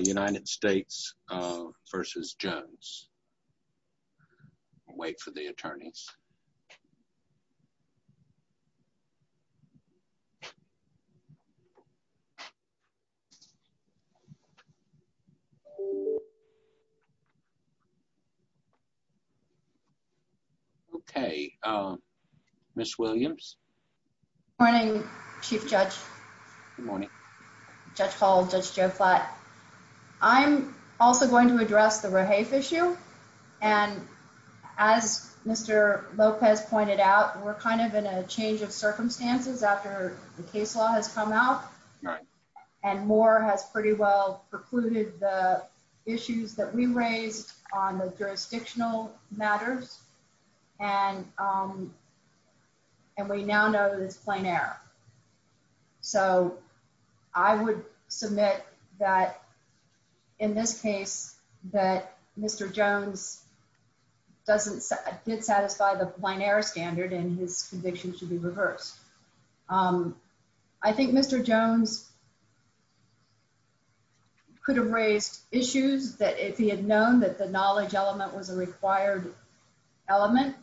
United States v. Jones. I'll wait for the attorneys. Okay, Ms. Williams. Good morning, Chief Judge. Good morning. Judge Hall, Judge Joe Flatt. I'm also going to address the Rahafe issue. And as Mr. Lopez pointed out, we're kind of in a change of circumstances after the case law has come out. And Moore has pretty well precluded the issues that we raised on the jurisdictional matters. And we now know that it's that in this case, that Mr. Jones didn't satisfy the plein air standard and his conviction should be reversed. I think Mr. Jones could have raised issues that if he had known that the knowledge element was a required element,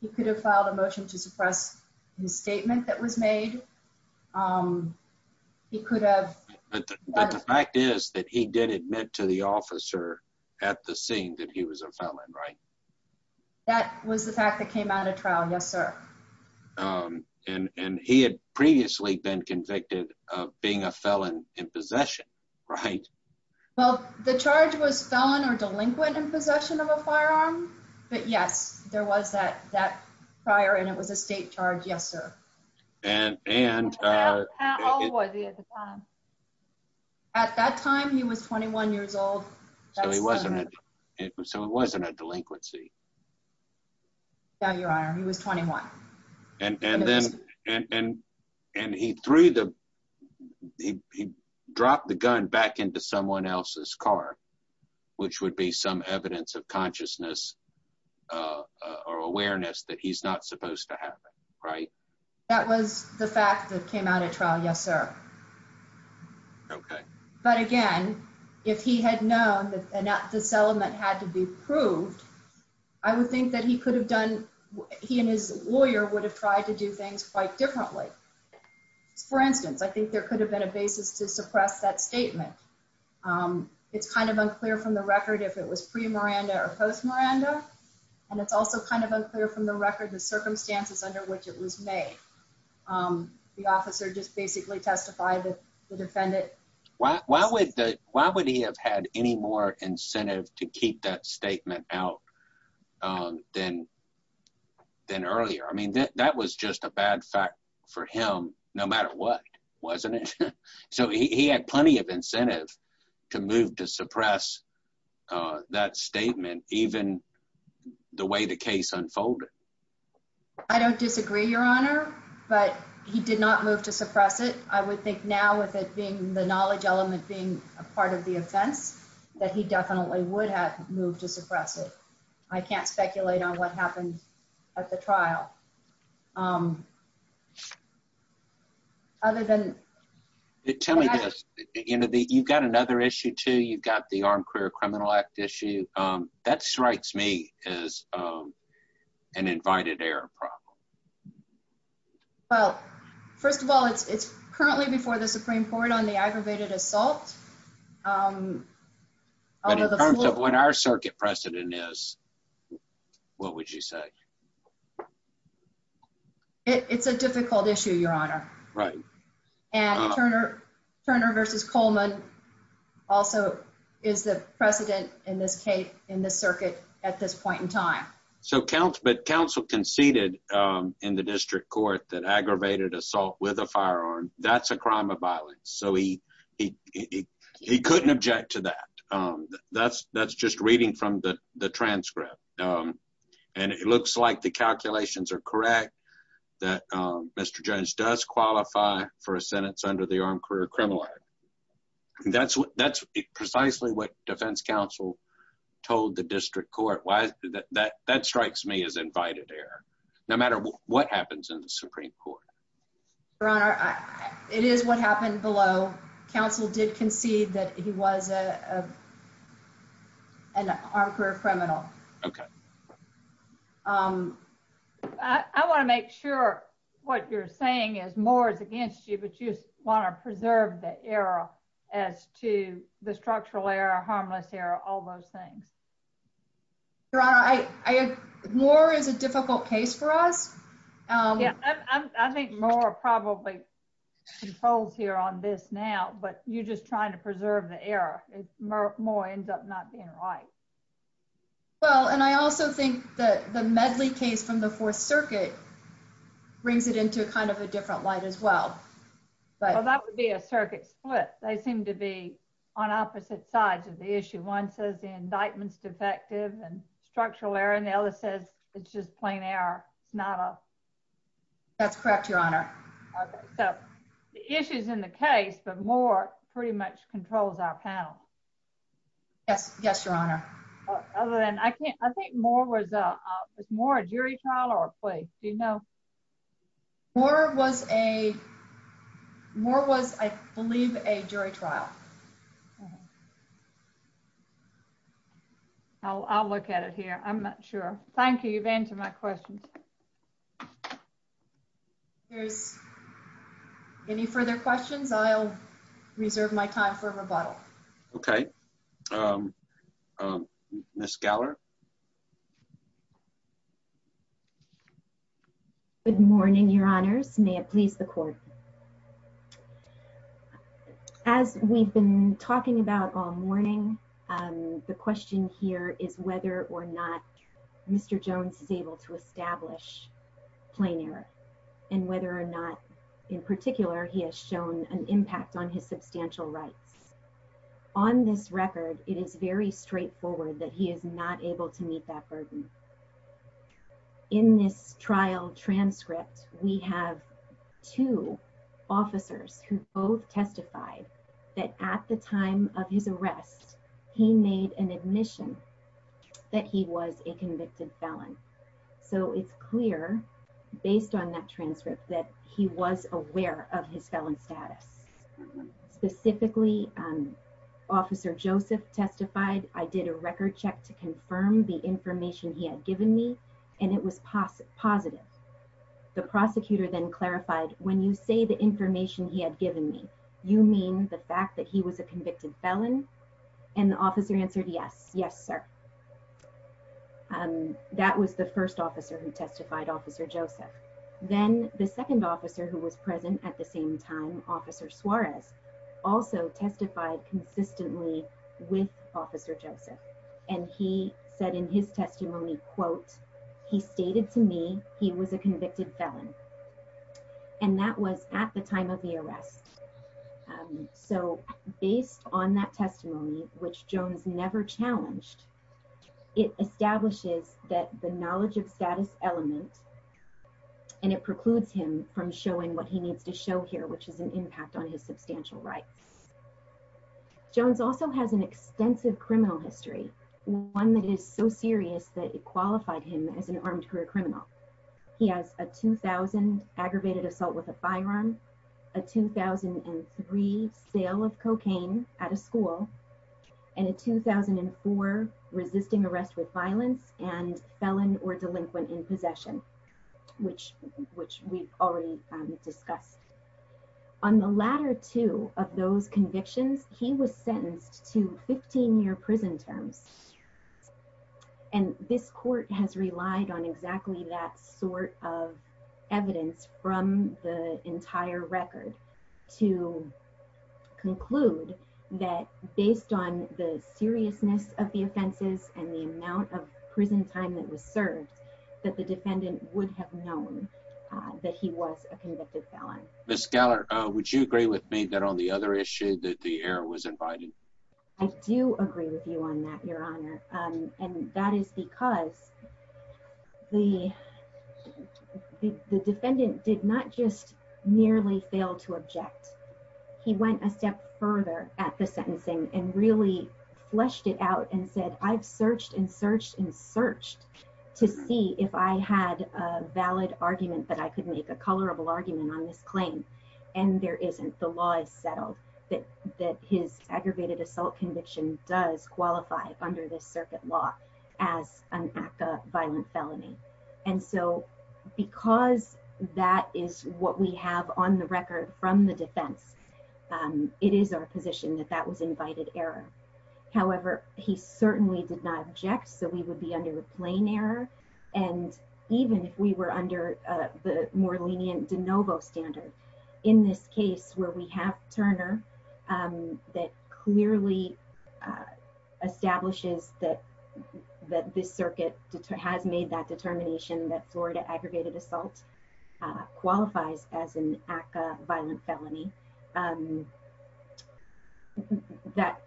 he could have filed a motion to suppress his statement that was made. He could have. But the fact is that he did admit to the officer at the scene that he was a felon, right? That was the fact that came out of trial. Yes, sir. And he had previously been convicted of being a felon in possession, right? Well, the charge was felon or delinquent in possession of a firearm. But yes, there was that prior and it was a state charge. Yes, sir. How old was he at the time? At that time, he was 21 years old. So it wasn't a delinquency. No, your honor, he was 21. And he dropped the gun back into someone else's car, which would be some evidence of consciousness or awareness that he's not supposed to have, right? That was the fact that came out of trial. Yes, sir. Okay. But again, if he had known that this element had to be proved, I would think that he could have done, he and his lawyer would have tried to do things quite differently. For instance, I think there could have been a basis to suppress that statement. It's kind of unclear from the record if it was pre-Miranda or post-Miranda. And it's also kind of unclear from the record the circumstances under which it was made. The officer just basically testified that the defendant... Why would he have had any more incentive to keep that statement out than earlier? I mean, that was just a bad fact for him, no matter what, wasn't it? So he had plenty of incentive to move to suppress that statement, even the way the case unfolded. I don't disagree, your honor, but he did not move to suppress it. I would think now with it being the knowledge element being a part of the offense, that he definitely would have moved to suppress it. I can't speculate on what happened at the trial. Other than... Tell me this. You've got another issue too. You've got the Armed Career Criminal Act issue. That strikes me as an invited error problem. Well, first of all, it's currently before the Supreme Court on the aggravated assault. But in terms of what our circuit precedent is, what would you say? It's a difficult issue, your honor. Right. And Turner versus Coleman also is the precedent in this circuit at this point in time. But counsel conceded in the district court that aggravated assault with a firearm, that's a crime of violence. So he couldn't object to that. That's just reading from the transcript. And it looks like the calculations are correct, that Mr. Jones does qualify for a sentence under the Armed Career Criminal Act. That's precisely what defense counsel told the district court. That strikes me as invited error, no matter what happens in the Supreme Court. Your honor, it is what happened below. Counsel did concede that he was an armed career criminal. I want to make sure what you're saying is Moore is against you, but you want to preserve the error as to the structural error, harmless error, all those things. Your honor, Moore is a difficult case for us. I think Moore probably controls here on this now, but you're just trying to preserve the error. Moore ends up not being right. Well, and I also think that the Medley case from the Fourth Circuit brings it into kind of a different light as well. Well, that would be a circuit split. They seem to be on opposite sides of the issue. One says the indictment's defective and structural error, the other says it's just plain error. That's correct, your honor. Okay, so the issue's in the case, but Moore pretty much controls our panel. Yes, yes, your honor. Other than I can't, I think Moore was, was Moore a jury trial or a plea? Do you know? Moore was a, Moore was, I believe, a jury trial. I'll, I'll look at it here. I'm not sure. Thank you. You've answered my questions. There's any further questions? I'll reserve my time for rebuttal. Okay. Um, um, Ms. Geller. Good morning, your honors. May it please the court. As we've been talking about all morning, um, the question here is whether or not Mr. Jones is able to establish plain error and whether or not, in particular, he has shown an impact on his burden. In this trial transcript, we have two officers who both testified that at the time of his arrest, he made an admission that he was a convicted felon. So it's clear based on that transcript that he was aware of his felon status. Specifically, um, officer Joseph testified. I did a record check to confirm the information he had given me, and it was positive. The prosecutor then clarified, when you say the information he had given me, you mean the fact that he was a convicted felon? And the officer answered, yes, yes, sir. Um, that was the first officer who testified officer Joseph. Then the second officer who was present at the same time, officer Suarez also testified consistently with officer Joseph, and he said in his testimony, quote, he stated to me he was a convicted felon, and that was at the time of the arrest. So based on that testimony, which Jones never challenged, it establishes that the knowledge of status element, and it precludes him from showing what he needs to show here, which is an impact on his substantial rights. Jones also has an extensive criminal history, one that is so serious that it qualified him as an armed career criminal. He has a 2000 aggravated assault with a firearm, a 2003 sale of cocaine at a school, and a 2004 resisting arrest with violence and felon or delinquent in possession, which, which we've already discussed. On the latter two of those convictions, he was sentenced to 15 year prison terms. And this court has relied on exactly that sort of evidence from the entire record to conclude that based on the seriousness of the offenses and the amount of prison time that was served, that the defendant would have known that he was a convicted felon. Ms. Geller, would you agree with me that on the other issue that the error was invited? I do agree with you on that, your honor. And that is because the defendant did not just merely fail to object. He went a step further at the sentencing and really fleshed it out and said, I've searched and searched and searched to see if I had a valid argument that I could make a colorable argument on this claim. And there isn't, the law is settled, that that his aggravated assault conviction does qualify under this circuit law as a violent felony. And so, because that is what we have on the record from the defense, it is our position that that was invited error. However, he certainly did not object. So, we would be under a plain error. And even if we were under the more lenient de novo standard, in this case where we have Turner, that clearly establishes that, that this circuit has made that determination that Florida aggravated assault qualifies as an ACA violent felony, that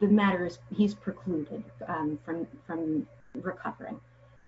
the matter is he's precluded from recovering.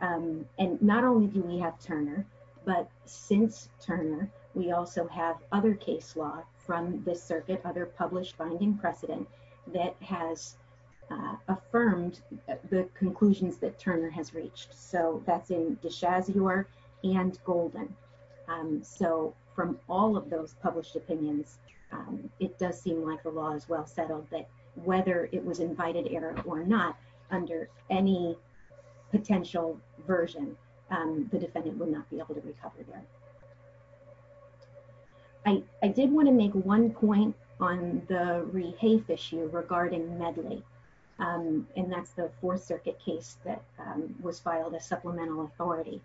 And not only do we have Turner, but since Turner, we also have other case law from this circuit, other published finding precedent that has affirmed the conclusions that Turner has reached. So, that's in DeShazior and Golden. So, from all of those published opinions, it does seem like the law is well settled that whether it was invited error or not, under any potential version, the defendant would not be able to recover there. I did want to make one point on the rehafe issue regarding Medley. And that's the Fourth Circuit case that was filed as supplemental authority.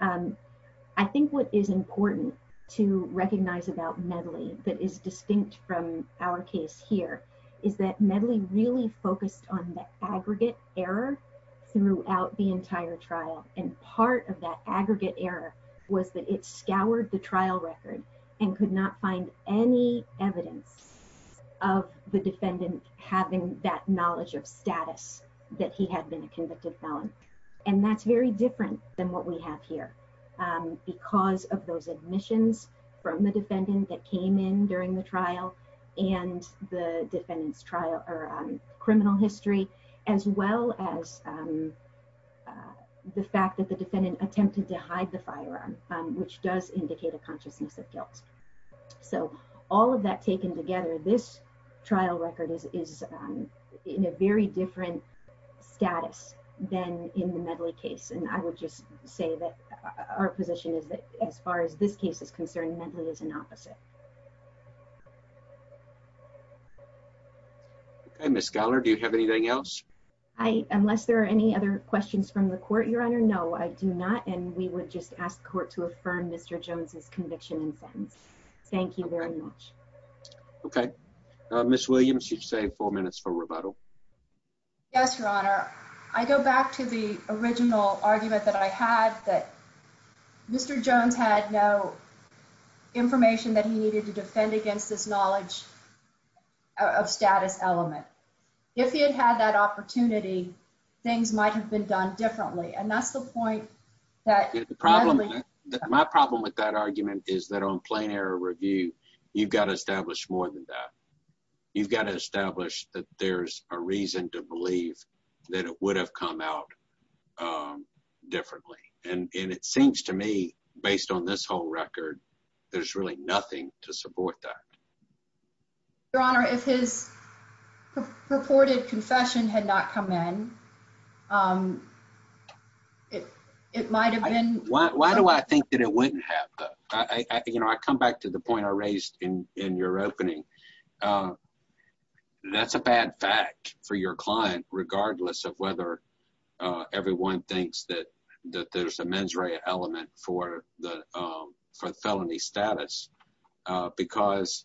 I think what is important to recognize about Medley that is distinct from our case here is that Medley really focused on the aggregate error throughout the entire trial. And part of that aggregate error was that it scoured the trial record and could not find any evidence of the defendant having that knowledge of status that he had been a convicted felon. And that's very different than what we have here, because of those admissions from the defendant that came in during the trial, and the defendant's trial or criminal history, as well as the fact that the defendant attempted to hide the firearm, which does indicate a consciousness of guilt. So, all of that taken together, this trial record is in a very different status than in the Medley case. And I would just say that our position is that as far as this case is concerned, Medley is an opposite. Okay, Ms. Geller, do you have anything else? Unless there are any other questions from the court, Your Honor, no, I do not. And we would just ask the court to affirm Mr. Jones's conviction and sentence. Thank you very much. Okay, Ms. Williams, you've saved four minutes for rebuttal. Yes, Your Honor. I go back to the original argument that I had that Mr. Jones had no information that he needed to defend against this knowledge of status element. If he had had that opportunity, things might have been done differently. And that's the point that... My problem with that argument is that on plain error review, you've got to establish more than that. You've got to establish that there's a reason to believe that it would have come out differently. And it seems to me, based on this whole record, there's really nothing to support that. Your Honor, if his purported confession had not come in, it might have been... Why do I think that it wouldn't have? I come back to the point I raised in your opening. That's a bad fact for your client, regardless of whether everyone thinks that there's a mens rea element for the felony status, because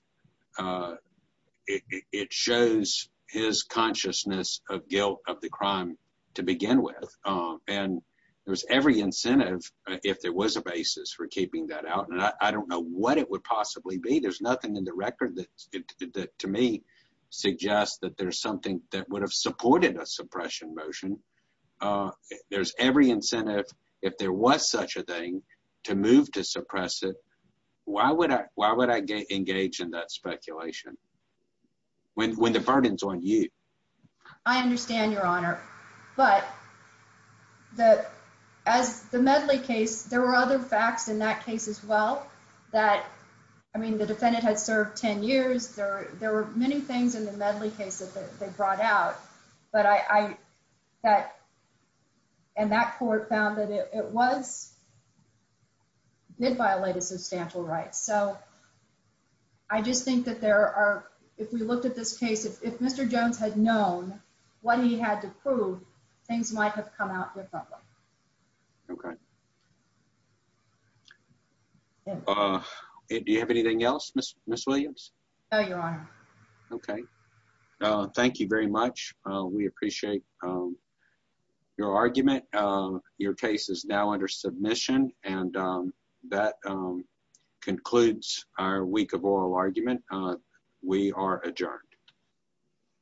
it shows his consciousness of guilt of the crime to begin with. And there's every incentive, if there was a basis for keeping that out. And I don't know what it would possibly be. There's nothing in the record that to me suggests that there's something that would have supported a suppression motion. There's every incentive, if there was such a thing, to move to suppress it. Why would I engage in that speculation when the burden's on you? I understand, Your Honor. But as the Medley case, there were other facts in that case as well. I mean, the defendant had served 10 years. There were many things in the Medley case that they brought out. And that court found that it did violate a substantial right. So I just think that there are, if we looked at this case, if Mr. Jones had known what he had to prove, things might have come out differently. Okay. Do you have anything else, Ms. Williams? No, Your Honor. Okay. Thank you very much. We appreciate your argument. Your case is now under submission. And that concludes our week of oral argument. We are adjourned.